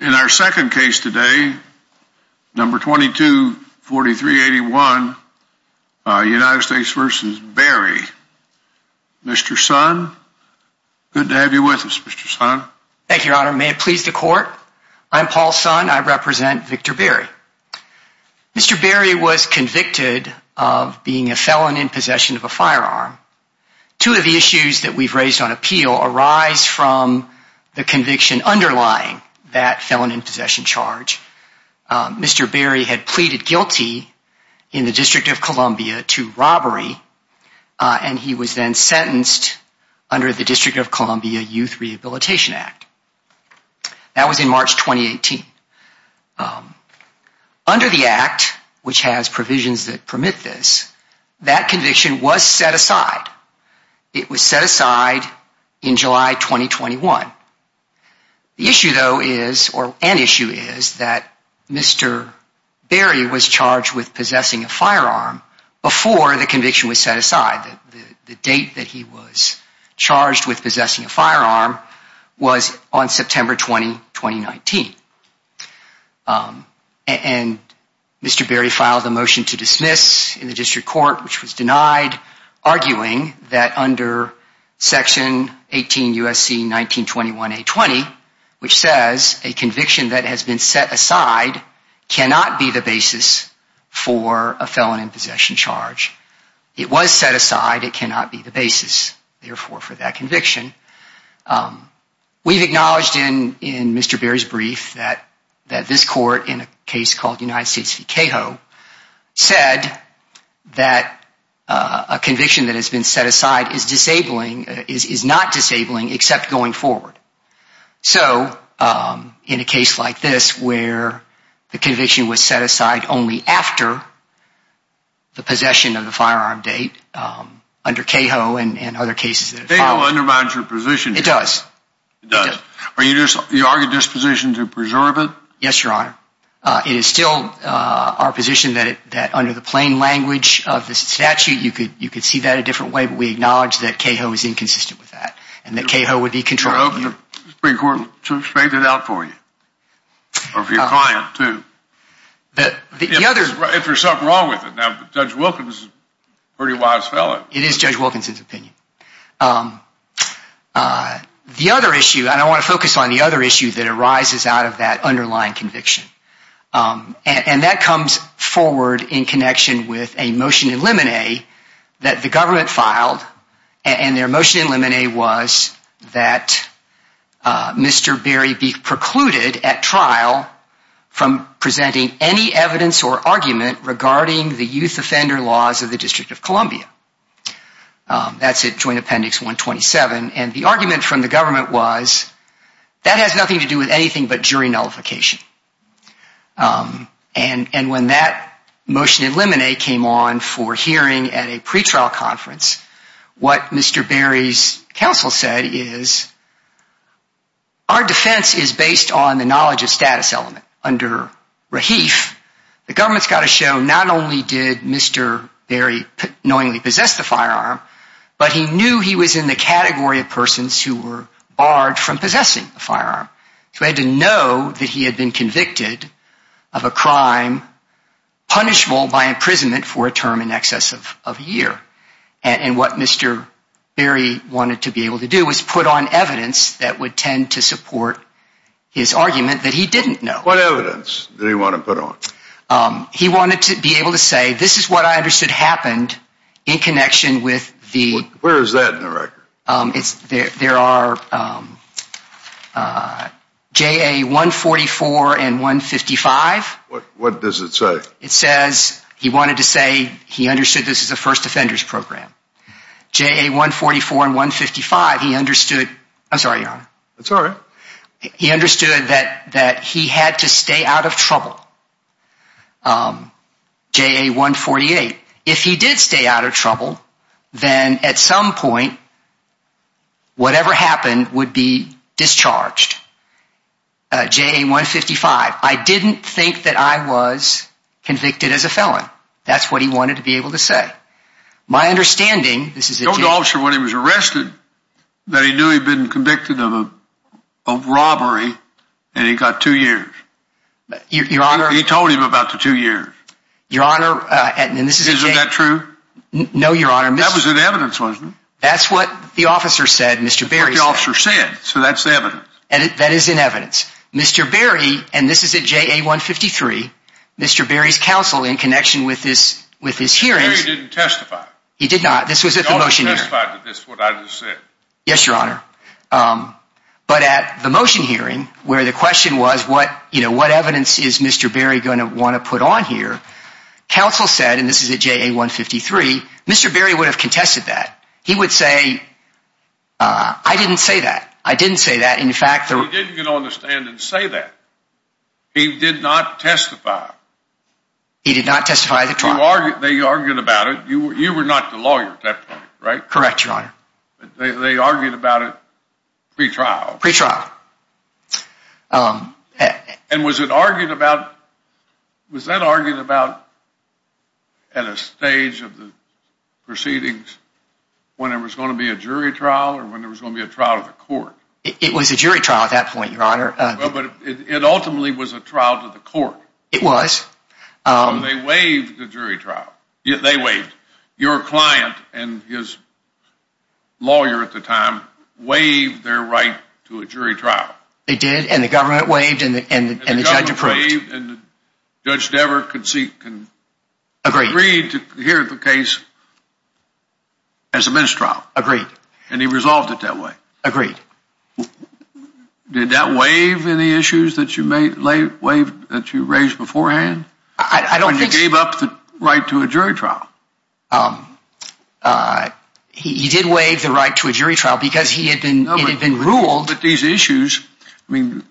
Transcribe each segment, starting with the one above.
In our second case today, number 224381, United States v. Berry. Mr. Son, good to have you with us, Mr. Son. Thank you, your honor. May it please the court. I'm Paul Son. I represent Victor Berry. Mr. Berry was convicted of being a felon in possession of a firearm. Two of the issues that we've raised on appeal arise from the conviction underlying that felon in possession charge. Mr. Berry had pleaded guilty in the District of Columbia to robbery, and he was then sentenced under the District of Columbia Youth Rehabilitation Act. That was in March 2018. Under the act, which has provisions that permit this, that conviction was set aside. It was set aside in July 2021. The issue though is, or an issue is, that Mr. Berry was charged with possessing a firearm before the conviction was set aside. The date that he was charged with possessing a firearm was on September 20, 2019. And Mr. Berry filed a motion to dismiss in the district court, which was denied, arguing that under Section 18 U.S.C. 1921 A.20, which says a conviction that has been set aside cannot be the basis for a felon in possession charge. It was set aside. It cannot be the basis, therefore, for that conviction. We've acknowledged in Mr. Berry's brief that this court, in a case called United States v. Cahill, said that a conviction that has been set aside is disabling, is not disabling, except going forward. So, in a case like this, where the conviction was set aside only after the possession of the firearm date, under Cahill and other cases. Cahill undermines your position. It does. It does. Are you arguing this position to preserve it? Yes, Your Honor. It is still our position that under the plain language of the statute, you could see that a different way, but we acknowledge that Cahill is inconsistent with that, and that Cahill would be controlling. We're hoping the Supreme Court to straighten it out for you, or for your client, too. If there's something wrong with it. Now, Judge Wilkins is a pretty wise fellow. It is Judge Wilkins' opinion. The other issue, and I want to focus on the other issue that arises out of that underlying conviction, and that comes forward in connection with a motion in limine that the government filed, and their motion in limine was that Mr. Berry be precluded at trial from presenting any evidence or argument regarding the youth offender laws of the District of Columbia. That's at Joint Appendix 127, and the argument from the government was that has nothing to do with anything but jury nullification, and when that motion in limine came on for hearing at a pretrial conference, what Mr. Berry's counsel said is, our defense is based on the knowledge of status element. Under Rahif, the government's got to show not only did Mr. Berry knowingly possess the firearm, but he knew he was in the category of persons who were barred from possessing the firearm. So he had to know that he had been convicted of a crime punishable by imprisonment for a term in excess of a year, and what Mr. Berry wanted to be able to do was put on evidence that would tend to support his argument that he didn't know. What evidence did he want to put on? He wanted to be able to say, this is what I understood happened in connection with the Where is that in the record? There are JA 144 and 155. What does it say? It says he wanted to say he understood this is a first offenders program. JA 144 and 155, he understood. I'm sorry, your honor. That's all right. He understood that he had to stay out of trouble. JA 148. If he did stay out of trouble, then at some point, whatever happened would be discharged. JA 155. I didn't think that I was convicted as a felon. That's what he wanted to be able to say. My understanding, this is a that he knew he'd been convicted of a robbery, and he got two years. He told him about the two years. Your honor, and this is a Isn't that true? No, your honor. That was in evidence, wasn't it? That's what the officer said, Mr. Berry. That's what the officer said, so that's the evidence. That is in evidence. Mr. Berry, and this is at JA 153, Mr. Berry's counsel in connection with this hearing Mr. Berry didn't testify. He did not. This was at the motion hearing. Is this what I just said? Yes, your honor. But at the motion hearing, where the question was, what evidence is Mr. Berry going to want to put on here? Counsel said, and this is at JA 153, Mr. Berry would have contested that. He would say, I didn't say that. I didn't say that. In fact, He didn't get on the stand and say that. He did not testify. He did not testify at the trial. They argued about it. You were not the lawyer at that point, right? Correct, your honor. They argued about it pre-trial? Pre-trial. And was it argued about, was that argued about at a stage of the proceedings when it was going to be a jury trial or when it was going to be a trial of the court? It was a jury trial at that point, your honor. But it ultimately was a trial to the court. It was. They waived the jury trial. They waived. Your client and his lawyer at the time waived their right to a jury trial. They did. And the government waived and the judge approved. And Judge Dever agreed to hear the case as a ministerial trial. Agreed. And he resolved it that way. Agreed. Did that waive any issues that you raised beforehand? I don't think so. When you gave up the right to a jury trial? Um, uh, he did waive the right to a jury trial because he had been, it had been ruled. But these issues, I mean,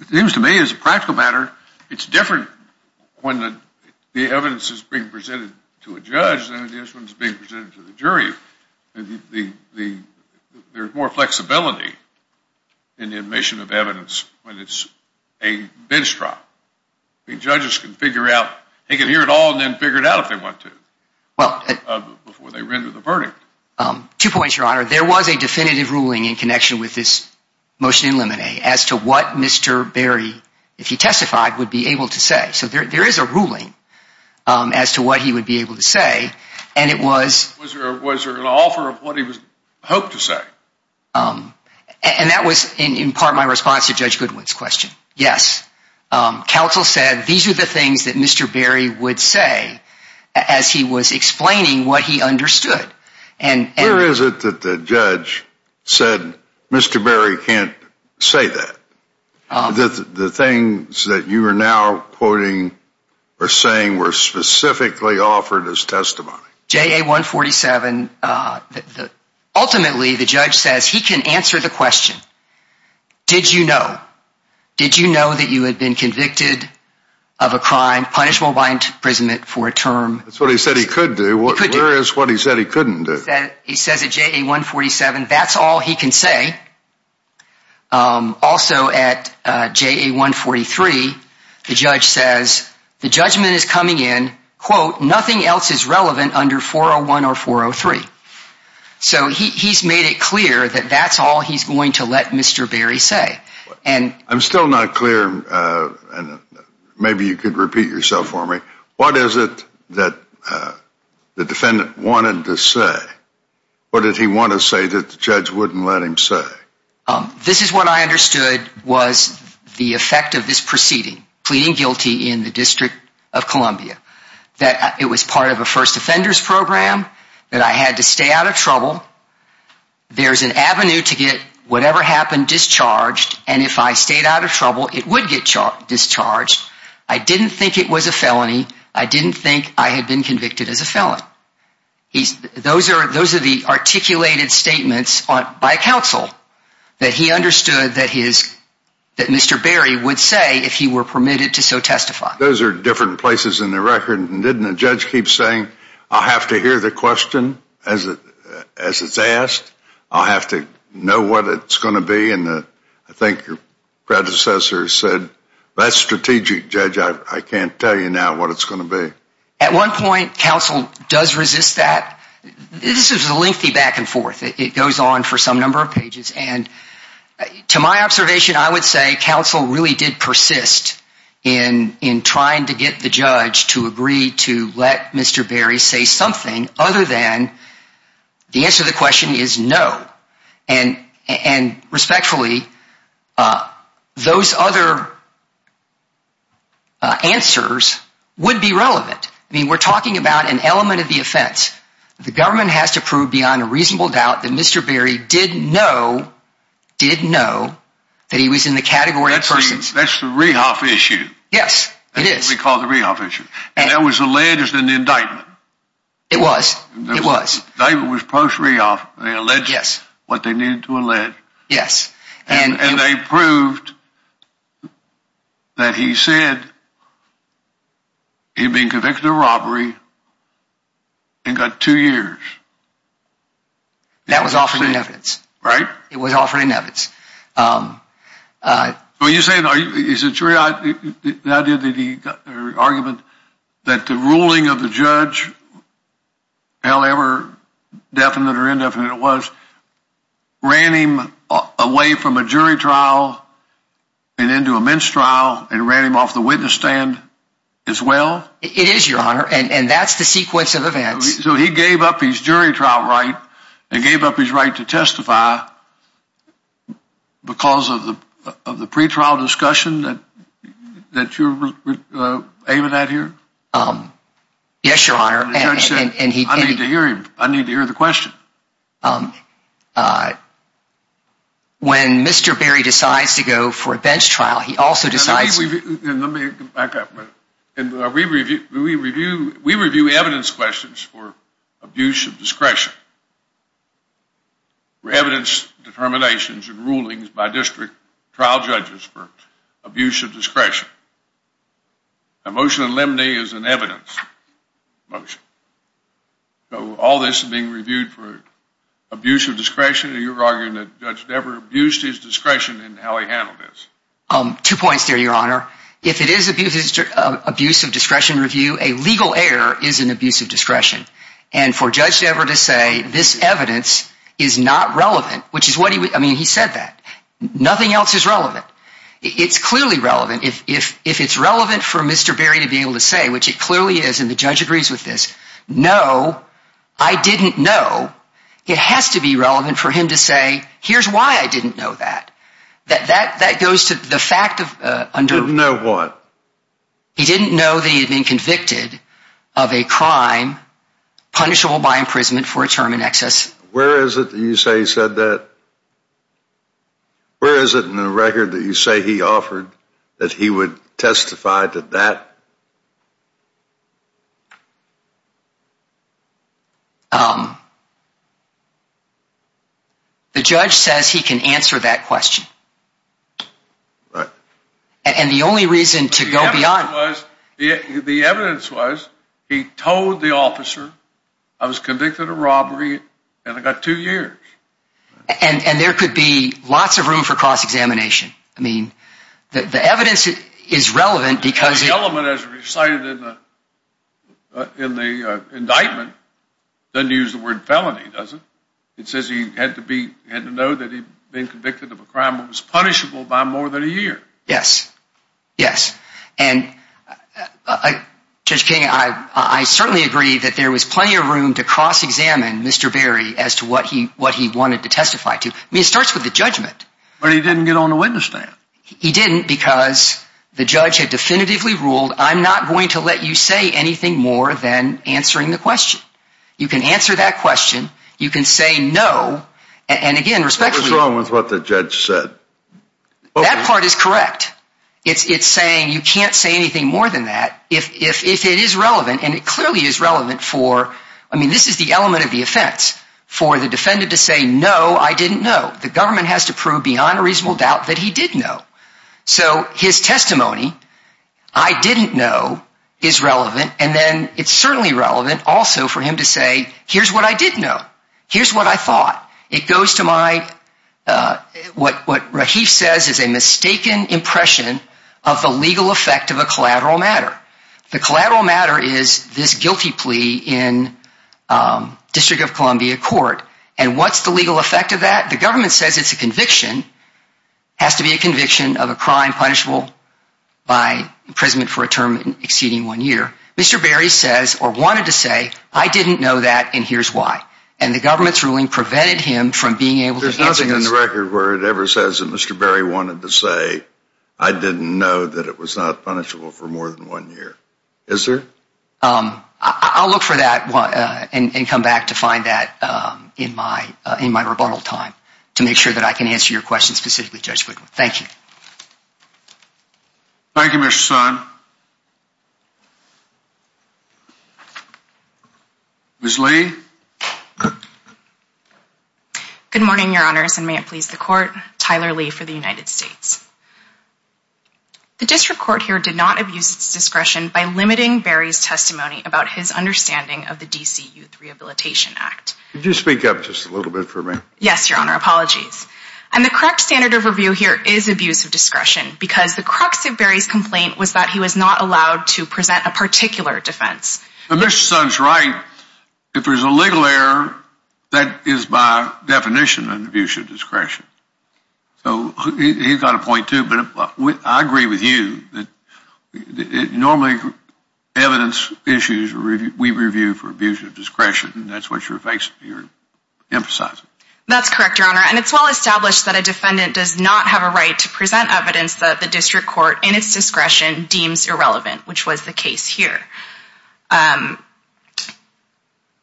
it seems to me as a practical matter, it's different when the evidence is being presented to a judge than it is when it's being presented to the jury. There's more flexibility in the admission of evidence when it's a bench trial. I mean, judges can figure out, they can hear it all and then figure it out if they want to. Well, before they render the verdict. Um, two points, Your Honor. There was a definitive ruling in connection with this motion in limine as to what Mr. Berry, if he testified, would be able to say. So there is a ruling as to what he would be able to say. And it was. Was there an offer of what he was hoped to say? Um, and that was in part my response to Judge Goodwin's question. Yes. Counsel said these are the things that Mr. Berry would say as he was explaining what he understood. And where is it that the judge said, Mr. Berry can't say that the things that you are now quoting or saying were specifically offered as testimony. JA 147. Ultimately, the judge says he can answer the question. Did you know? Did you know that you had been convicted of a crime? Punishable by imprisonment for a term. That's what he said he could do. Where is what he said he couldn't do? He says at JA 147, that's all he can say. Also at JA 143, the judge says the judgment is coming in, quote, nothing else is relevant under 401 or 403. So he's made it clear that that's all he's going to let Mr. Berry say. I'm still not clear. Maybe you could repeat yourself for me. What is it that the defendant wanted to say? What did he want to say that the judge wouldn't let him say? This is what I understood was the effect of this proceeding, pleading guilty in the District of Columbia, that it was part of a first offenders program, that I had to stay out of trouble. There's an avenue to get whatever happened discharged. And if I stayed out of trouble, it would get discharged. I didn't think it was a felony. I didn't think I had been convicted as a felon. Those are the articulated statements by counsel that he understood that Mr. Berry would say if he were permitted to so testify. Those are different places in the record. Didn't the judge keep saying, I'll have to hear the question as it's asked? I'll have to know what it's going to be. And I think your predecessor said, that's strategic, Judge. I can't tell you now what it's going to be. At one point, counsel does resist that. This is a lengthy back and forth. It goes on for some number of pages. And to my observation, I would say counsel really did persist in trying to get the judge to agree to let Mr. Berry say something other than the answer to the question is no. And respectfully, those other answers would be relevant. I mean, we're talking about an element of the offense. The government has to prove beyond a reasonable doubt that Mr. Berry didn't know, didn't know that he was in the category of persons. That's the Rehoff issue. Yes, it is. We call it the Rehoff issue. And that was alleged in the indictment. It was. It was. The indictment was post-Rehoff. They alleged what they needed to allege. Yes. And they proved that he said he'd been convicted of robbery and got two years. That was offered in evidence. Right. It was offered in evidence. Well, you're saying, is it true, the idea that he got the argument that the ruling of the judge, however definite or indefinite it was, ran him away from a jury trial and into a mince trial and ran him off the witness stand as well? It is, Your Honor. And that's the sequence of events. So he gave up his jury trial right and gave up his right to testify. Because of the pre-trial discussion that you're aiming at here? Yes, Your Honor. And the judge said, I need to hear him. I need to hear the question. When Mr. Berry decides to go for a bench trial, he also decides. Let me come back up a minute. And we review evidence questions for abuse of discretion. We evidence determinations and rulings by district trial judges for abuse of discretion. A motion in limine is an evidence motion. So all this is being reviewed for abuse of discretion. And you're arguing that Judge Dever abused his discretion in how he handled this. Two points there, Your Honor. If it is abuse of discretion review, a legal error is an abuse of discretion. And for Judge Dever to say this evidence is not relevant, which is what he said. Nothing else is relevant. It's clearly relevant. If it's relevant for Mr. Berry to be able to say, which it clearly is, and the judge agrees with this, no, I didn't know. It has to be relevant for him to say, here's why I didn't know that. That goes to the fact of... He didn't know what? Punishable by imprisonment for a term in excess. Where is it that you say he said that? Where is it in the record that you say he offered that he would testify to that? The judge says he can answer that question. And the only reason to go beyond... The evidence was he told the officer I was convicted of robbery and I got two years. And there could be lots of room for cross-examination. I mean, the evidence is relevant because... The element as recited in the indictment doesn't use the word felony, does it? It says he had to know that he'd been convicted of a crime that was punishable by more than a year. Yes. Yes. And Judge King, I certainly agree that there was plenty of room to cross-examine Mr. Berry as to what he wanted to testify to. I mean, it starts with the judgment. But he didn't get on the witness stand. He didn't because the judge had definitively ruled, I'm not going to let you say anything more than answering the question. You can answer that question. You can say no. And again, respectfully... What's wrong with what the judge said? That part is correct. It's saying you can't say anything more than that if it is relevant. And it clearly is relevant for... I mean, this is the element of the offense. For the defendant to say, no, I didn't know. The government has to prove beyond a reasonable doubt that he did know. So his testimony, I didn't know, is relevant. And then it's certainly relevant also for him to say, here's what I did know. Here's what I thought. It goes to what Rahif says is a mistaken impression of the legal effect of a collateral matter. The collateral matter is this guilty plea in District of Columbia Court. And what's the legal effect of that? The government says it's a conviction. It has to be a conviction of a crime punishable by imprisonment for a term exceeding one year. Mr. Berry says, or wanted to say, I didn't know that, and here's why. And the government's ruling prevented him from being able to... There's nothing in the record where it ever says that Mr. Berry wanted to say, I didn't know that it was not punishable for more than one year. Is there? I'll look for that and come back to find that in my rebuttal time to make sure that I can answer your question specifically, Judge Wigwam. Thank you. Thank you, Mr. Son. Ms. Lee. Good morning, Your Honors, and may it please the Court. Tyler Lee for the United States. The District Court here did not abuse its discretion by limiting Berry's testimony about his understanding of the D.C. Youth Rehabilitation Act. Could you speak up just a little bit for me? Yes, Your Honor. Apologies. And the correct standard of review here is abuse of discretion because the crux of Berry's complaint was that he was not allowed to present a particular defense. But Mr. Son's right. If there's a legal error, that is by definition an abuse of discretion. So he's got a point too. But I agree with you that normally evidence issues we review for abuse of discretion, and that's what you're emphasizing. That's correct, Your Honor. And it's well established that a defendant does not have a right to present evidence that the District Court, in its discretion, deems irrelevant, which was the case here.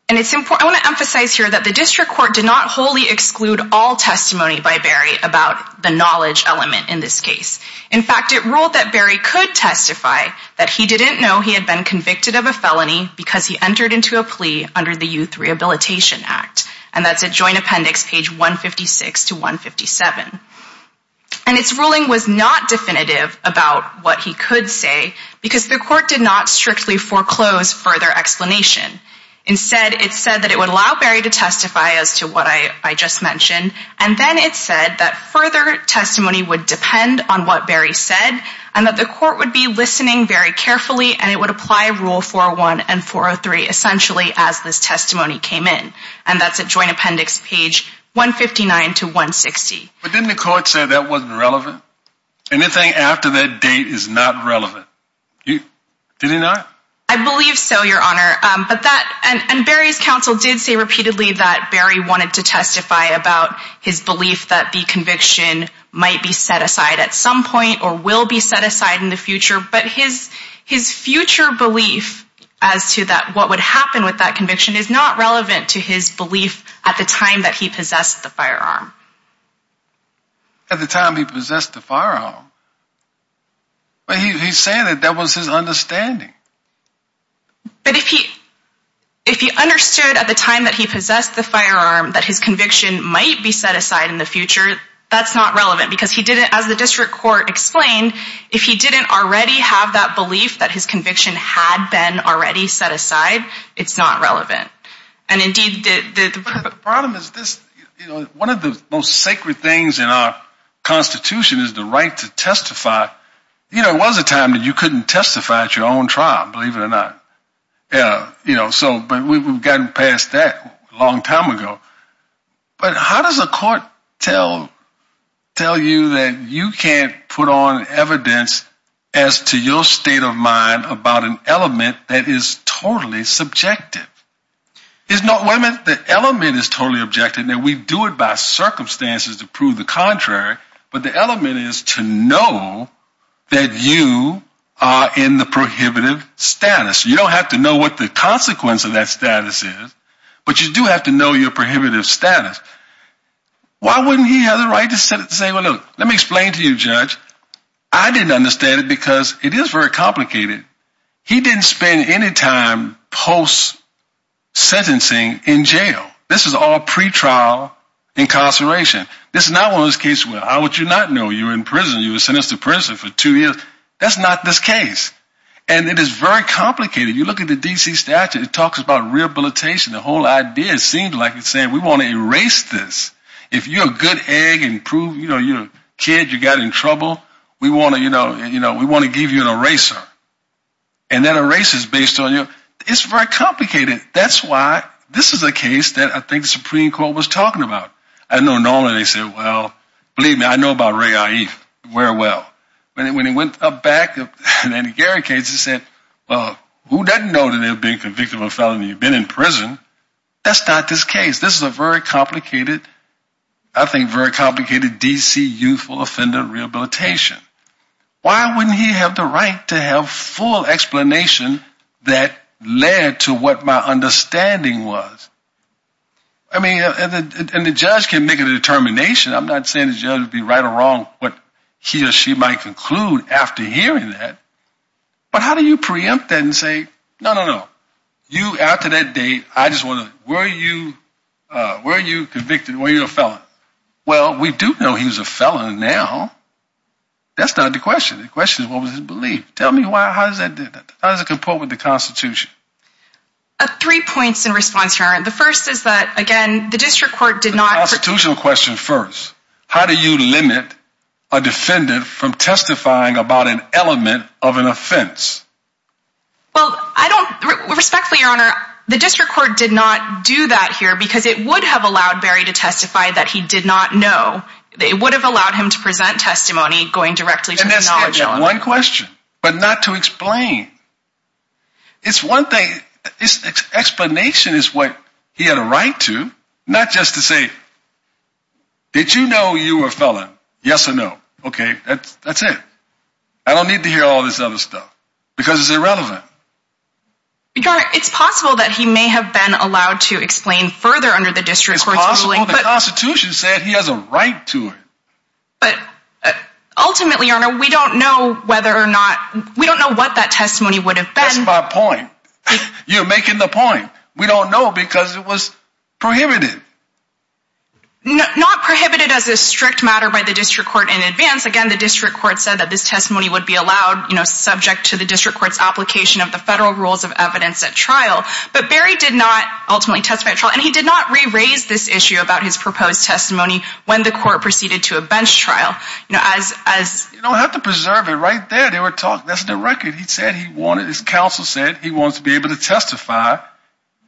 And it's important, I want to emphasize here that the District Court did not wholly exclude all testimony by Berry about the knowledge element in this case. In fact, it ruled that Berry could testify that he didn't know he had been convicted of a felony because he entered into a plea under the Youth Rehabilitation Act. And that's at Joint Appendix page 156 to 157. And its ruling was not definitive about what he could say because the Court did not strictly foreclose further explanation. Instead, it said that it would allow Berry to testify as to what I just mentioned. And then it said that further testimony would depend on what Berry said and that the Court would be listening very carefully and it would apply Rule 401 and 403 essentially as this testimony came in. And that's at Joint Appendix page 159 to 160. But didn't the Court say that wasn't relevant? Anything after that date is not relevant. Did it not? I believe so, Your Honor. But that and Berry's counsel did say repeatedly that Berry wanted to testify about his belief that the conviction might be set aside at some point or will be set aside in the future. But his future belief as to that what would happen with that conviction is not relevant to his belief at the time that he possessed the firearm. At the time he possessed the firearm. But he's saying that that was his understanding. But if he understood at the time that he possessed the firearm that his conviction might be set aside in the future, that's not relevant because he didn't, as the District Court explained, if he didn't already have that belief that his conviction had been already set aside, it's not relevant. And indeed, the problem is this, you know, one of the most sacred things in our Constitution is the right to testify. You know, it was a time that you couldn't testify at your own trial, believe it or not. Yeah, you know, so but we've gotten past that a long time ago. But how does a court tell you that you can't put on evidence as to your state of mind about an element that is totally subjective? It's not when the element is totally objective that we do it by circumstances to prove the that you are in the prohibitive status. You don't have to know what the consequence of that status is. But you do have to know your prohibitive status. Why wouldn't he have the right to say, well, look, let me explain to you, Judge. I didn't understand it because it is very complicated. He didn't spend any time post sentencing in jail. This is all pretrial incarceration. This is not one of those cases where how would you not know you're in prison? You were sentenced to prison for two years. That's not this case. And it is very complicated. You look at the D.C. statute. It talks about rehabilitation. The whole idea seems like it's saying we want to erase this. If you're a good egg and prove, you know, you're a kid, you got in trouble. We want to, you know, you know, we want to give you an eraser. And then a race is based on you. It's very complicated. That's why this is a case that I think the Supreme Court was talking about. I know normally they say, well, believe me, I know about Ray. Where? Well, when he went up back and then he guarantees he said, well, who doesn't know that they're being convicted of a felony? You've been in prison. That's not this case. This is a very complicated, I think, very complicated D.C. youthful offender rehabilitation. Why wouldn't he have the right to have full explanation that led to what my understanding was? I mean, and the judge can make a determination. I'm not saying the judge would be right or wrong, but he or she might conclude after hearing that. But how do you preempt that and say, no, no, no, you after that date, I just want to. Were you were you convicted? Were you a felon? Well, we do know he's a felon now. That's not the question. The question is, what was his belief? Tell me why. How does that how does it comport with the Constitution? Three points in response. The first is that, again, the district court did not constitutional question first. How do you limit a defendant from testifying about an element of an offense? Well, I don't respectfully honor the district court did not do that here because it would have allowed Barry to testify that he did not know they would have allowed him to present testimony going directly to one question, but not to explain. It's one thing. Explanation is what he had a right to, not just to say. Did you know you were a felon? Yes or no. OK, that's it. I don't need to hear all this other stuff because it's irrelevant. Because it's possible that he may have been allowed to explain further under the district court's ruling. But the Constitution said he has a right to it. But ultimately, you know, we don't know whether or not we don't know what that testimony is. That's my point. You're making the point. We don't know because it was prohibited. Not prohibited as a strict matter by the district court in advance. Again, the district court said that this testimony would be allowed, you know, subject to the district court's application of the federal rules of evidence at trial. But Barry did not ultimately testify. And he did not re-raise this issue about his proposed testimony when the court proceeded to a bench trial. You know, as you don't have to preserve it right there. They were talking. That's the record. His counsel said he wants to be able to testify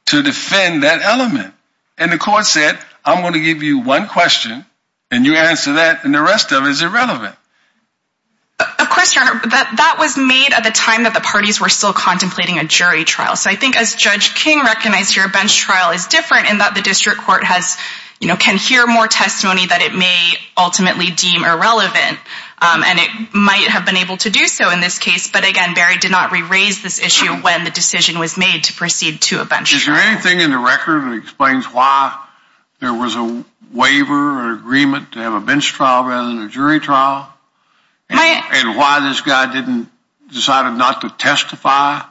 to defend that element. And the court said, I'm going to give you one question and you answer that and the rest of it is irrelevant. Of course, your honor, that was made at the time that the parties were still contemplating a jury trial. So I think as Judge King recognized here, a bench trial is different in that the district court has, you know, can hear more testimony that it may ultimately deem irrelevant. And it might have been able to do so in this case. But again, Barry did not re-raise this issue when the decision was made to proceed to a bench trial. Is there anything in the record that explains why there was a waiver or agreement to have a bench trial rather than a jury trial? And why this guy didn't decide not to testify?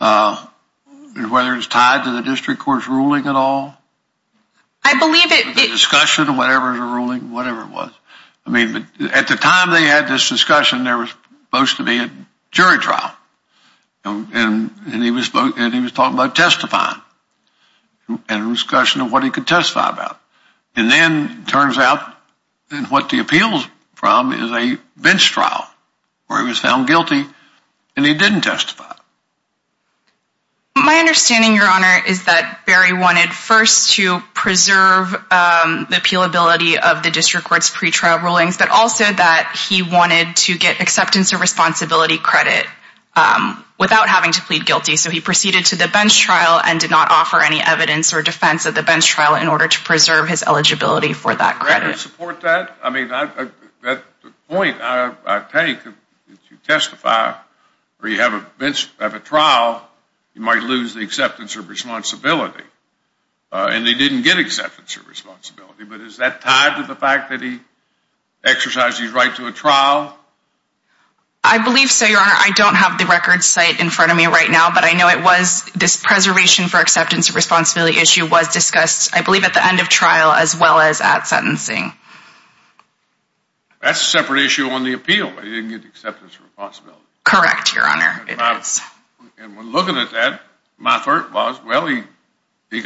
Whether it's tied to the district court's ruling at all? I believe it. Discussion, whatever the ruling, whatever it was. At the time they had this discussion, there was supposed to be a jury trial and he was talking about testifying and discussion of what he could testify about. And then it turns out that what the appeal is from is a bench trial where he was found guilty and he didn't testify. My understanding, your honor, is that Barry wanted first to preserve the appealability of the district court's pre-trial rulings, but also that he wanted to get acceptance of responsibility credit without having to plead guilty. So he proceeded to the bench trial and did not offer any evidence or defense at the bench trial in order to preserve his eligibility for that credit. Do you support that? I mean, the point I take, if you testify or you have a trial, you might lose the acceptance of responsibility. And they didn't get acceptance of responsibility. But is that tied to the fact that he exercised his right to a trial? I believe so, your honor. I don't have the record site in front of me right now, but I know it was this preservation for acceptance of responsibility issue was discussed, I believe, at the end of trial as well as at sentencing. That's a separate issue on the appeal. They didn't get acceptance of responsibility. Correct, your honor. And when looking at that, my thought was, well, he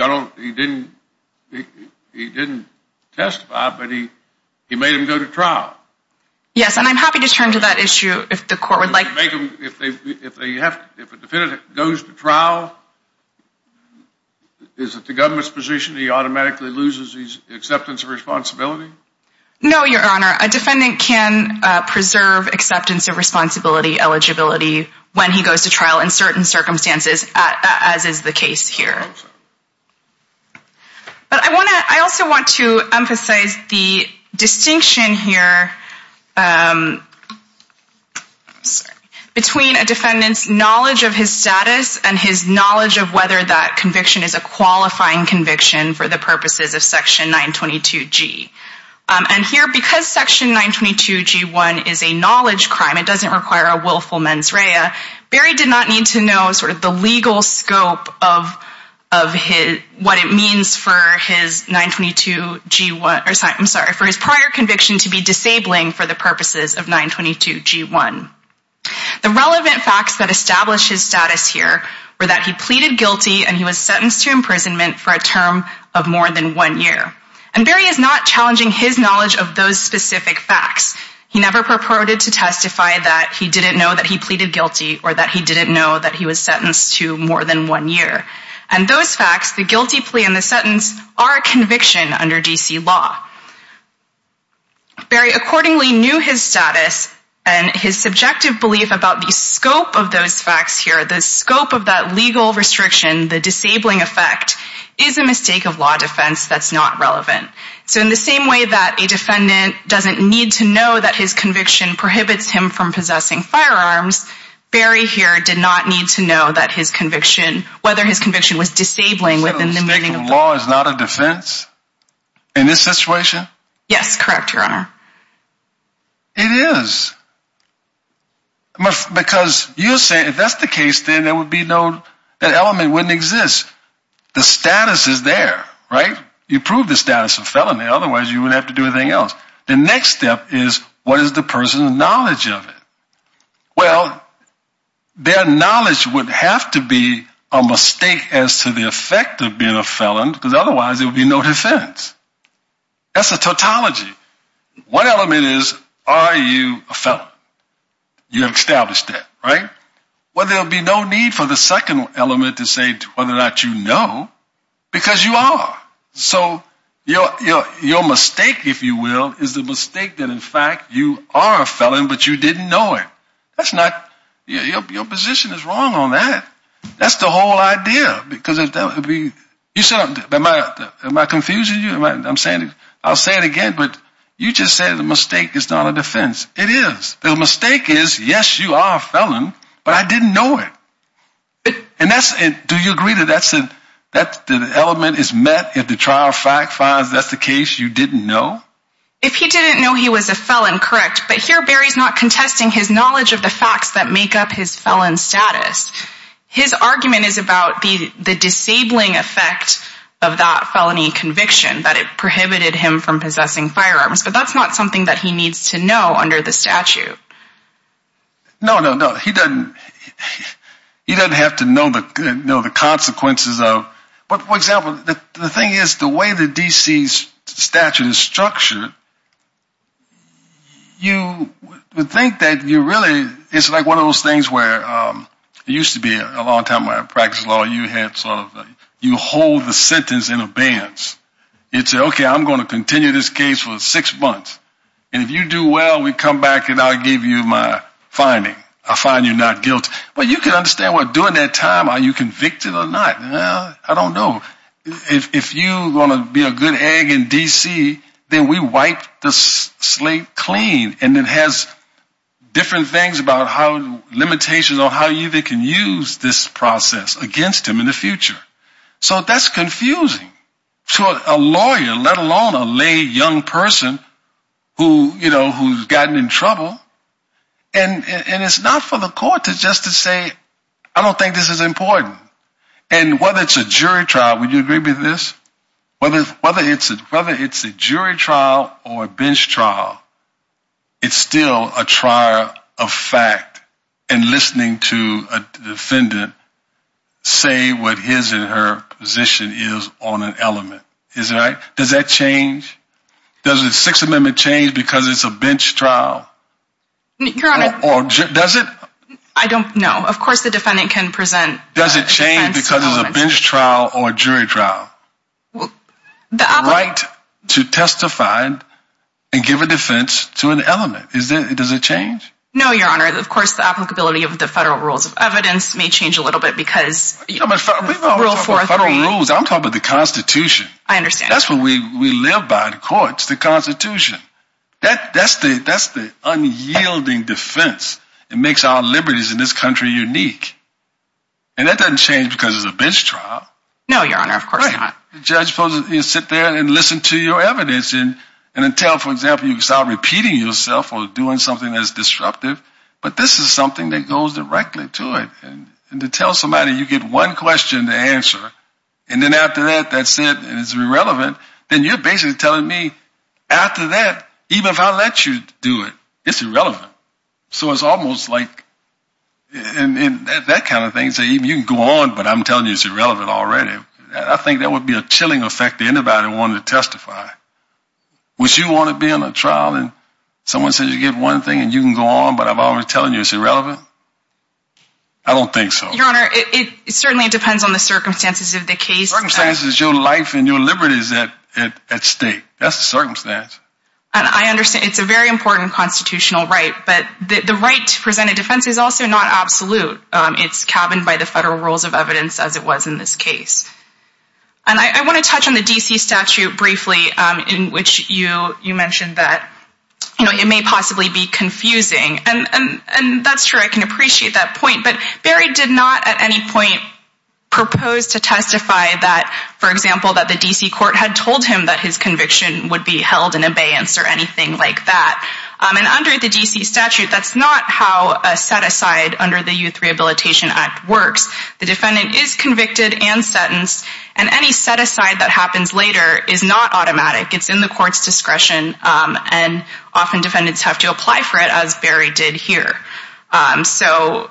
didn't testify, but he made him go to trial. Yes, and I'm happy to turn to that issue if the court would like. If a defendant goes to trial, is it the government's position he automatically loses his acceptance of responsibility? No, your honor. A defendant can preserve acceptance of responsibility eligibility when he goes to trial in certain circumstances, as is the case here. But I also want to emphasize the distinction here between a defendant's knowledge of his status and his knowledge of whether that conviction is a qualifying conviction for the purposes of Section 922G. And here, because Section 922G1 is a knowledge crime, it doesn't require a willful mens rea, Barry did not need to know the legal scope of what it means for his prior conviction to be disabling for the purposes of 922G1. The relevant facts that establish his status here were that he pleaded guilty and he was sentenced to imprisonment for a term of more than one year. And Barry is not challenging his knowledge of those specific facts. He never purported to testify that he didn't know that he pleaded guilty or that he didn't know that he was sentenced to more than one year. And those facts, the guilty plea and the sentence, are a conviction under D.C. law. Barry accordingly knew his status and his subjective belief about the scope of those facts here, the scope of that legal restriction, the disabling effect, is a mistake of law that's not relevant. So in the same way that a defendant doesn't need to know that his conviction prohibits him from possessing firearms, Barry here did not need to know that his conviction, whether his conviction was disabling within the meaning of the law. A mistake of law is not a defense in this situation? Yes, correct, Your Honor. It is. Because you say if that's the case, then there would be no, that element wouldn't exist. The status is there, right? You prove the status of felony, otherwise you would have to do anything else. The next step is what is the person's knowledge of it? Well, their knowledge would have to be a mistake as to the effect of being a felon, because otherwise there would be no defense. That's a tautology. One element is, are you a felon? You have established that, right? Well, there'll be no need for the second element to say whether or not you know, because you are. So your mistake, if you will, is the mistake that in fact you are a felon, but you didn't know it. That's not, your position is wrong on that. That's the whole idea. Because if that would be, you said, am I confusing you? I'm saying, I'll say it again, but you just said the mistake is not a defense. It is. The mistake is, yes, you are a felon, but I didn't know it. And that's it. Do you agree that the element is met if the trial fact finds that's the case you didn't know? If he didn't know he was a felon, correct. But here, Barry's not contesting his knowledge of the facts that make up his felon status. His argument is about the disabling effect of that felony conviction, that it prohibited him from possessing firearms. But that's not something that he needs to know under the statute. No, no, no. He doesn't, he doesn't have to know the consequences of, but for example, the thing is, the way the D.C. statute is structured, you would think that you really, it's like one of those things where, it used to be a long time when I practiced law, you had sort of, you hold the sentence in advance. You'd say, okay, I'm going to continue this case for six months. And if you do well, we come back and I'll give you my finding. I'll find you not guilty. But you can understand what, during that time, are you convicted or not? Well, I don't know. If you want to be a good egg in D.C., then we wipe the slate clean. And it has different things about how, limitations on how you can use this process against him in the future. So that's confusing to a lawyer, let alone a lay young person who's gotten in trouble. And it's not for the court to just to say, I don't think this is important. And whether it's a jury trial, would you agree with this? Whether it's a jury trial or a bench trial, it's still a trial of fact and listening to a defendant say what his and her position is on an element. Is that right? Does that change? Does the Sixth Amendment change because it's a bench trial? Does it? I don't know. Of course, the defendant can present. Does it change because it's a bench trial or jury trial? The right to testify and give a defense to an element. Does it change? No, Your Honor. Of course, the applicability of the federal rules of evidence may change a little bit because Rule 4.3. I'm talking about the Constitution. I understand. That's what we live by, the courts, the Constitution. That's the unyielding defense. It makes our liberties in this country unique. And that doesn't change because it's a bench trial. No, Your Honor. Of course not. Judge, you sit there and listen to your evidence and until, for example, you start repeating yourself or doing something that's disruptive, but this is something that goes directly to it. And to tell somebody you get one question to answer, and then after that, that's it, and it's irrelevant, then you're basically telling me after that, even if I let you do it, it's irrelevant. So it's almost like that kind of thing. So you can go on, but I'm telling you it's irrelevant already. I think that would be a chilling effect to anybody who wanted to testify. Would you want to be on a trial and someone says you get one thing and you can go on, but I'm always telling you it's irrelevant? I don't think so. Your Honor, it certainly depends on the circumstances of the case. Circumstances is your life and your liberties at stake. That's the circumstance. And I understand it's a very important constitutional right, but the right to present a defense is also not absolute. It's cabined by the federal rules of evidence as it was in this case. And I want to touch on the D.C. statute briefly, in which you mentioned that it may possibly be confusing. And that's true. I can appreciate that point. But Barry did not at any point propose to testify that, for example, that the D.C. court had told him that his conviction would be held in abeyance or anything like that. And under the D.C. statute, that's not how a set-aside under the Youth Rehabilitation Act works. The defendant is convicted and sentenced, and any set-aside that happens later is not automatic. It's in the court's discretion. And often defendants have to apply for it, as Barry did here. So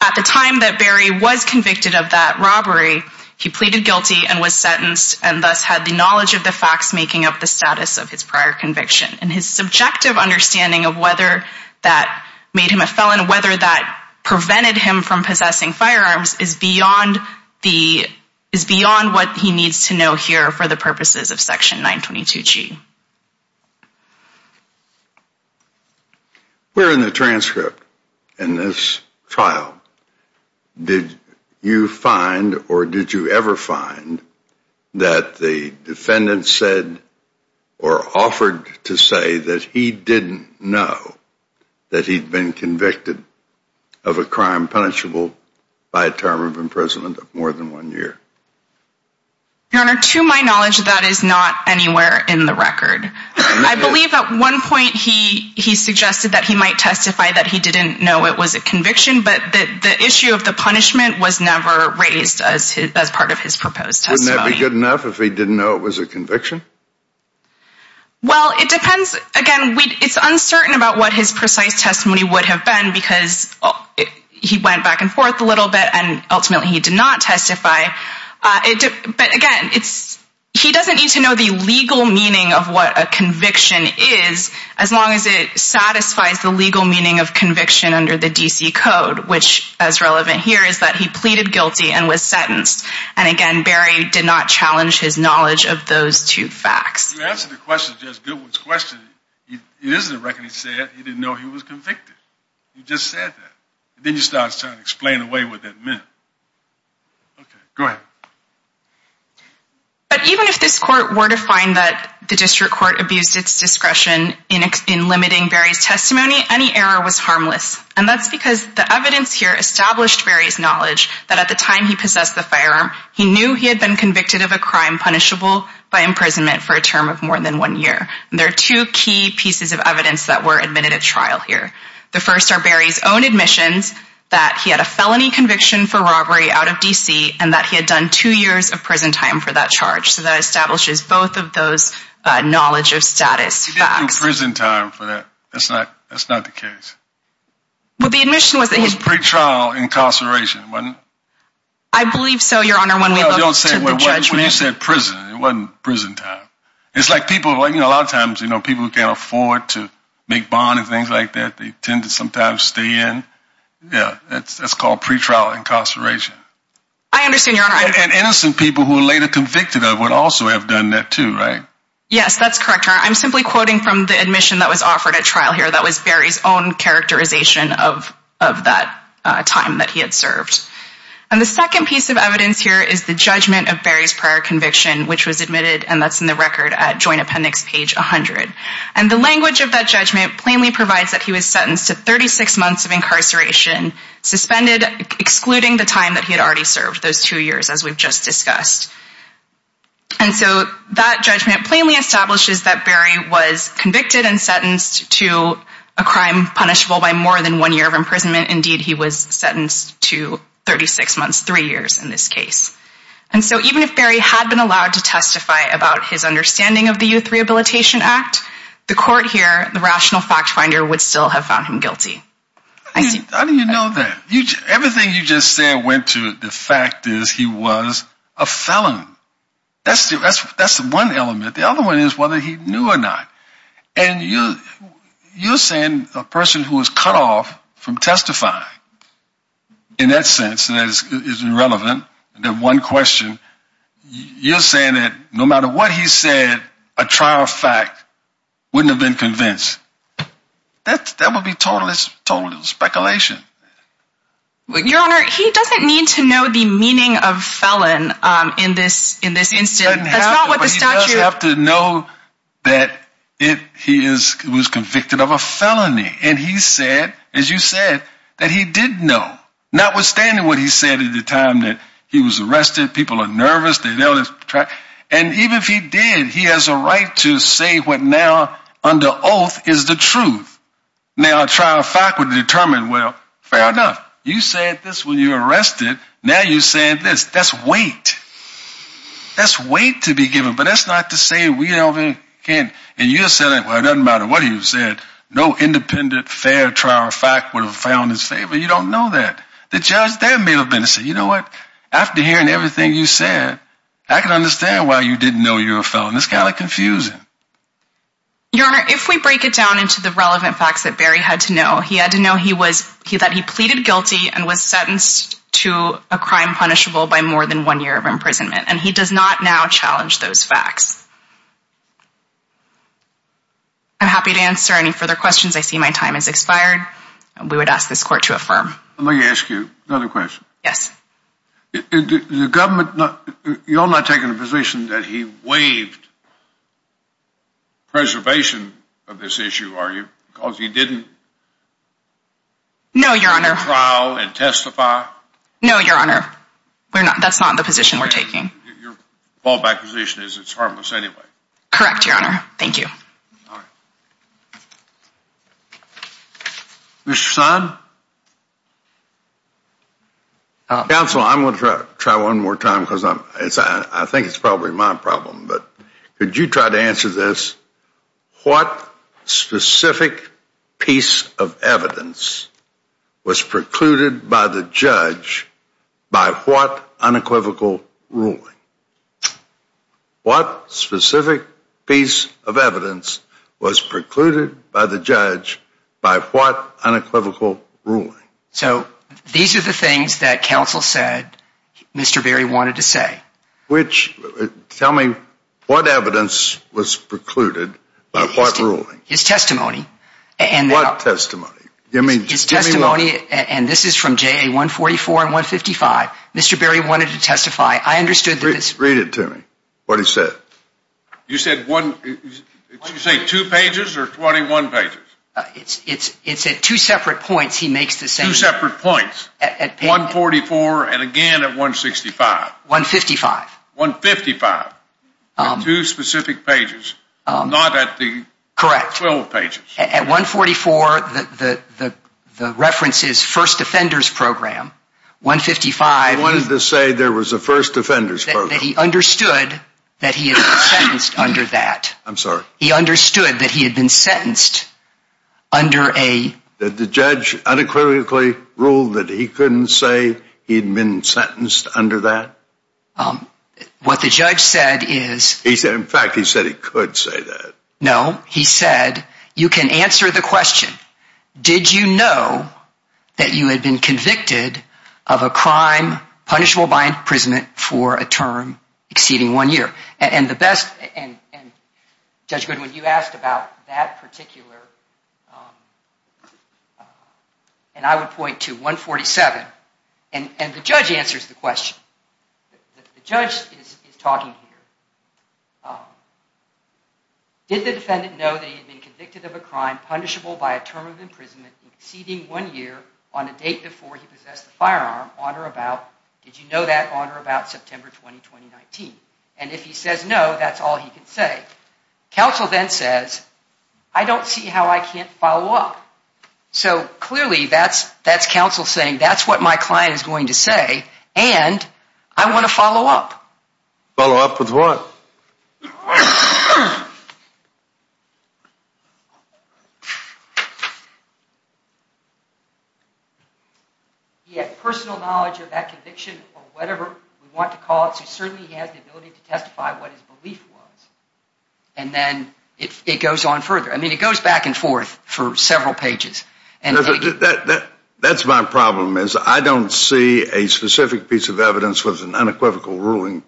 at the time that Barry was convicted of that robbery, he pleaded guilty and was sentenced, and thus had the knowledge of the facts making up the status of his prior conviction. And his subjective understanding of whether that made him a felon, whether that prevented him from possessing firearms, is beyond what he needs to know here for the purposes of Section 922G. Where in the transcript in this trial did you find or did you ever find that the defendant said or offered to say that he didn't know that he'd been convicted of a crime punishable by a term of imprisonment of more than one year? Your Honor, to my knowledge, that is not anywhere in the record. I believe at one point he suggested that he might testify that he didn't know it was a conviction, but the issue of the punishment was never raised as part of his proposed testimony. Wouldn't that be good enough if he didn't know it was a conviction? Well, it depends. Again, it's uncertain about what his precise testimony would have been, because he went back and forth a little bit, and ultimately he did not testify. But again, he doesn't need to know the legal meaning of what a conviction is, as long as it satisfies the legal meaning of conviction under the D.C. Code, which, as relevant here, is that he pleaded guilty and was sentenced. And again, Barry did not challenge his knowledge of those two facts. To answer the question, Judge Goodwin's question, it is in the record that he said he didn't know he was convicted. He just said that. Then he starts trying to explain away what that meant. Okay, go ahead. But even if this court were to find that the district court abused its discretion in limiting Barry's testimony, any error was harmless. And that's because the evidence here established Barry's knowledge that at the time he possessed the firearm, he knew he had been convicted of a crime punishable by imprisonment for a term of more than one year. And there are two key pieces of evidence that were admitted at trial here. The first are Barry's own admissions, that he had a felony conviction for robbery out of D.C., and that he had done two years of prison time for that charge. So that establishes both of those knowledge of status facts. He didn't do prison time for that. That's not the case. Well, the admission was that he... It was pre-trial incarceration, wasn't it? I believe so, Your Honor, when we look to the judgment. When you said prison, it wasn't prison time. It's like people, a lot of times, people who can't afford to make bond and things like that, they tend to sometimes stay in. Yeah, that's called pre-trial incarceration. I understand, Your Honor. And innocent people who are later convicted of would also have done that too, right? Yes, that's correct, Your Honor. I'm simply quoting from the admission that was offered at trial here. That was Barry's own characterization of that time that he had served. And the second piece of evidence here is the judgment of Barry's prior conviction, which was admitted, and that's in the record at Joint Appendix, page 100. And the language of that judgment plainly provides that he was sentenced to 36 months of incarceration, suspended, excluding the time that he had already served, those two years, as we've just discussed. And so that judgment plainly establishes that Barry was convicted and sentenced to a crime punishable by more than one year of imprisonment. Indeed, he was sentenced to 36 months, three years in this case. And so even if Barry had been allowed to testify about his understanding of the Youth Rehabilitation Act, the court here, the rational fact finder, would still have found him guilty. How do you know that? Everything you just said went to the fact is he was a felon. That's the one element. The other one is whether he knew or not. And you're saying a person who was cut off from testifying, in that sense, that is irrelevant, that one question, you're saying that no matter what he said, a trial fact wouldn't have been convinced. That would be total speculation. Your Honor, he doesn't need to know the meaning of felon in this instance. He doesn't have to, but he does have to know that he was convicted of a felony. And he said, as you said, that he did know, notwithstanding what he said at the time that he was arrested. People are nervous. And even if he did, he has a right to say what now, under oath, is the truth. Now, a trial fact would determine, well, fair enough. You said this when you were arrested. Now you're saying this. That's weight. That's weight to be given. But that's not to say we can't, and you're saying, well, it doesn't matter what he said, no independent fair trial fact would have found his favor. You don't know that. The judge there may have been to say, you know what? After hearing everything you said, I can understand why you didn't know you're a felon. It's kind of confusing. Your Honor, if we break it down into the relevant facts that Barry had to know, he had to know that he pleaded guilty and was sentenced to a crime punishable by more than one year of imprisonment. And he does not now challenge those facts. I'm happy to answer any further questions. I see my time has expired. We would ask this court to affirm. Let me ask you another question. Yes. The government, you're not taking a position that he waived preservation of this issue, are you? Because he didn't? No, Your Honor. Trial and testify? No, Your Honor. That's not the position we're taking. Your ballpark position is it's harmless anyway. Correct, Your Honor. Thank you. Mr. Son? Counsel, I'm going to try one more time because I think it's probably my problem. But could you try to answer this? What specific piece of evidence was precluded by the judge by what unequivocal ruling? So, these are the things that counsel said Mr. Berry wanted to say. Which, tell me, what evidence was precluded by what ruling? His testimony. What testimony? His testimony, and this is from JA 144 and 155. Read it to me, what he said. You said one, did you say two pages or 21 pages? It's at two separate points he makes the same. Two separate points. 144 and again at 165. 155. 155. Two specific pages, not at the 12 pages. At 144, the reference is first offenders program. 155. He wanted to say there was a first offenders program. That he understood that he had been sentenced under that. I'm sorry? He understood that he had been sentenced under a... That the judge unequivocally ruled that he couldn't say he'd been sentenced under that? What the judge said is... He said, in fact, he said he could say that. No, he said, you can answer the question. Did you know that you had been convicted of a crime punishable by imprisonment for a term exceeding one year? Judge Goodwin, you asked about that particular... And I would point to 147. And the judge answers the question. The judge is talking here. Did the defendant know that he had been convicted of a crime punishable by a term of imprisonment exceeding one year on a date before he possessed the firearm on or about... Did you know that on or about September 20, 2019? And if he says no, that's all he could say. Counsel then says, I don't see how I can't follow up. So clearly that's counsel saying, that's what my client is going to say. And I want to follow up. Follow up with what? He had personal knowledge of that conviction or whatever we want to call it. So certainly he has the ability to testify what his belief was. And then it goes on further. I mean, it goes back and forth for several pages. And that's my problem is I don't see a specific piece of evidence with an unequivocal ruling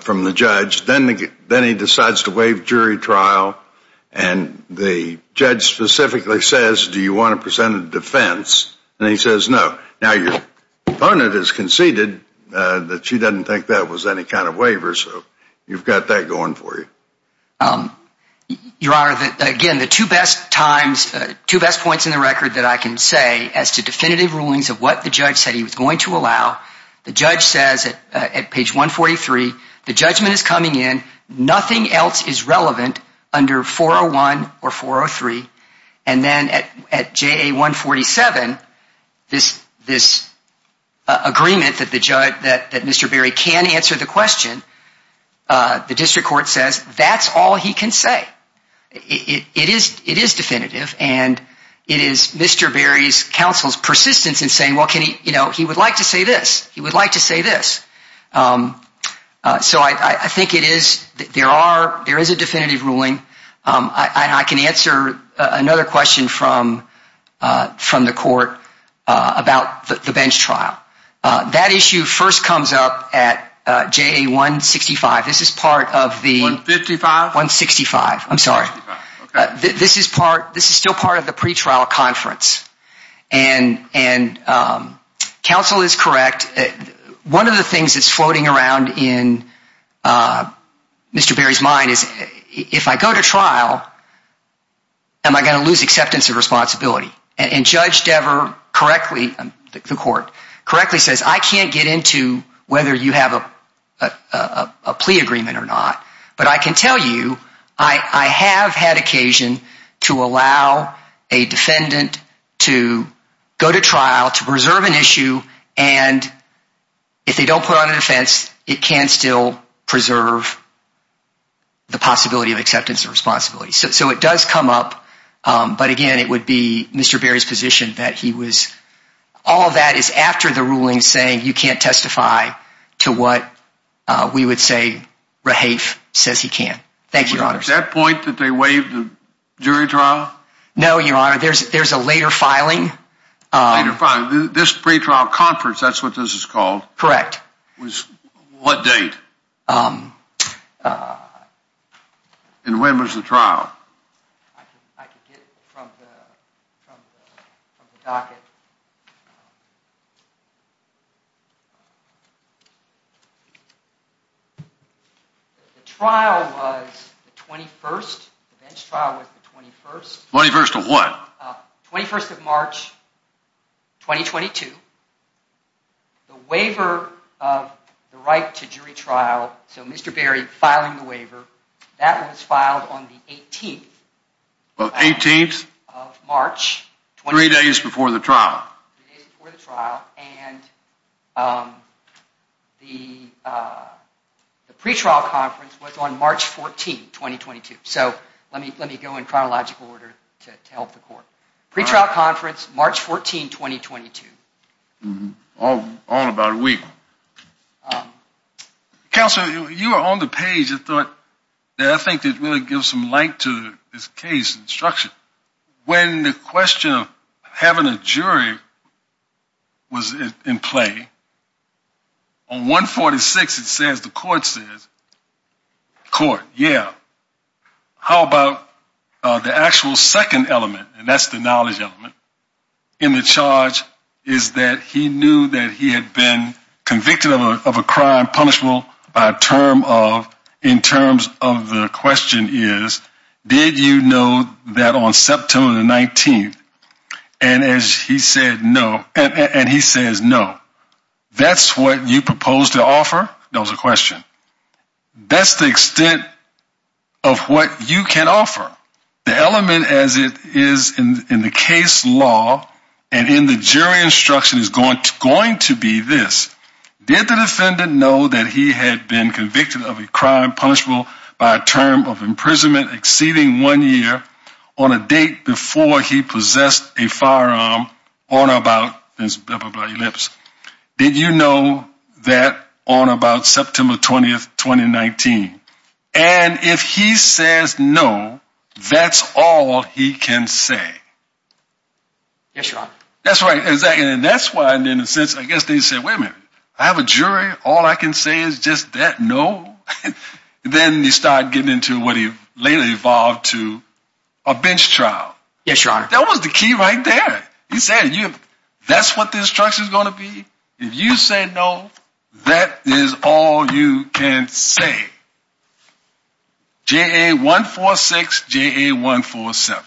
from the judge. Then he decides to waive jury trial. And the judge specifically says, do you want to present a defense? And he says, no. Now your opponent has conceded that she doesn't think that was any kind of waiver. So you've got that going for you. Your Honor, again, the two best times, two best points in the record that I can say The judge says at page 143, the judgment is coming in. Nothing else is relevant under 401 or 403. And then at JA 147, this agreement that Mr. Berry can answer the question, the district court says, that's all he can say. It is definitive. And it is Mr. Berry's counsel's persistence in saying, well, he would like to say this. He would like to say this. So I think it is, there is a definitive ruling. I can answer another question from the court about the bench trial. That issue first comes up at JA 165. This is part of the- 165? 165. I'm sorry. This is still part of the pretrial conference. And counsel is correct. One of the things that's floating around in Mr. Berry's mind is, if I go to trial, am I going to lose acceptance of responsibility? And Judge Dever correctly, the court, correctly says, I can't get into whether you have a plea agreement or not. But I can tell you, I have had occasion to allow a defendant to go to trial to preserve an issue. And if they don't put on a defense, it can still preserve the possibility of acceptance of responsibility. So it does come up. But again, it would be Mr. Berry's position that he was, all of that is after the ruling saying you can't testify to what we would say Rahafe says he can. Thank you, Your Honor. Was it at that point that they waived the jury trial? No, Your Honor. There's a later filing. A later filing. This pretrial conference, that's what this is called. Correct. Was what date? And when was the trial? I can get from the docket. The trial was the 21st. The bench trial was the 21st. 21st of what? 21st of March, 2022. The waiver of the right to jury trial. So Mr. Berry filing the waiver. That was filed on the 18th. The 18th? Of March. Three days before the trial. Three days before the trial. And the pretrial conference was on March 14, 2022. So let me go in chronological order to help the court. Pretrial conference, March 14, 2022. All in about a week. Counselor, you were on the page. I thought that I think it really gives some light to this case and structure. When the question of having a jury was in play, on 146, it says, the court says, court, yeah. How about the actual second element? And that's the knowledge element. In the charge is that he knew that he had been convicted of a crime punishable by a term of, in terms of the question is, did you know that on September the 19th? And as he said, no, and he says, no. That's what you propose to offer? That was a question. That's the extent of what you can offer. The element as it is in the case law and in the jury instruction is going to be this. Did the defendant know that he had been convicted of a crime punishable by a term of imprisonment exceeding one year on a date before he possessed a firearm on about Did you know that on about September 20th, 2019? And if he says no, that's all he can say. Yes, your honor. That's right. Exactly. And that's why, and in a sense, I guess they said, wait a minute, I have a jury. All I can say is just that no. Then you start getting into what he later evolved to a bench trial. Yes, your honor. That was the key right there. He said, that's what the instruction is going to be. If you say no, that is all you can say. JA 146, JA 147.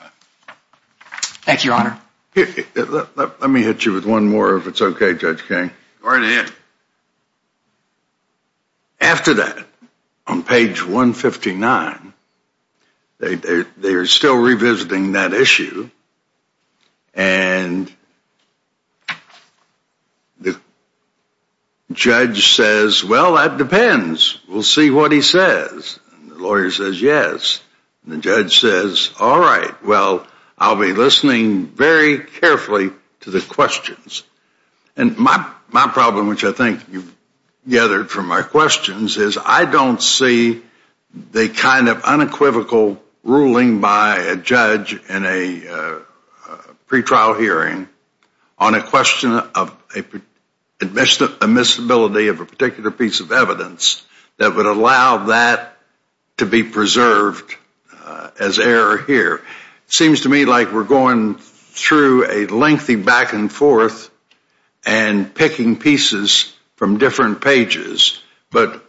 Thank you, your honor. Let me hit you with one more, if it's okay, Judge King. Go right ahead. After that, on page 159, they are still revisiting that issue. And the judge says, well, that depends. We'll see what he says. And the lawyer says, yes. And the judge says, all right, well, I'll be listening very carefully to the questions. And my problem, which I think you've gathered from my questions, is I don't see the kind of unequivocal ruling by a judge in a pre-trial hearing on a question of admissibility of a particular piece of evidence that would allow that to be preserved as error here. It seems to me like we're going through a lengthy back and forth and picking pieces from different pages. But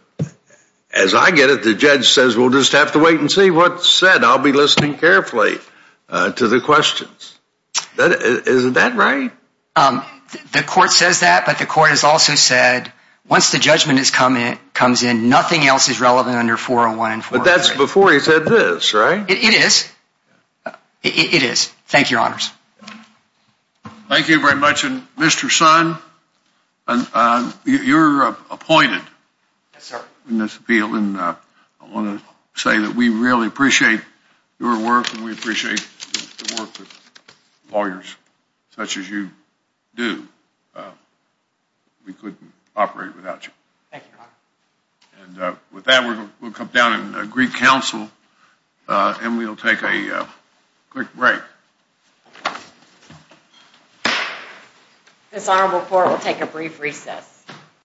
as I get it, the judge says, we'll just have to wait and see what's said. I'll be listening carefully to the questions. Isn't that right? The court says that. But the court has also said, once the judgment comes in, nothing else is relevant under 401 and 403. But that's before he said this, right? It is. It is. Thank you, Your Honors. Thank you very much. And Mr. Son, you're appointed in this appeal. And I want to say that we really appreciate your work and we appreciate the work of lawyers such as you do. We couldn't operate without you. Thank you, Your Honor. And with that, we'll come down and agree counsel. And we'll take a quick break. This honorable court will take a brief recess.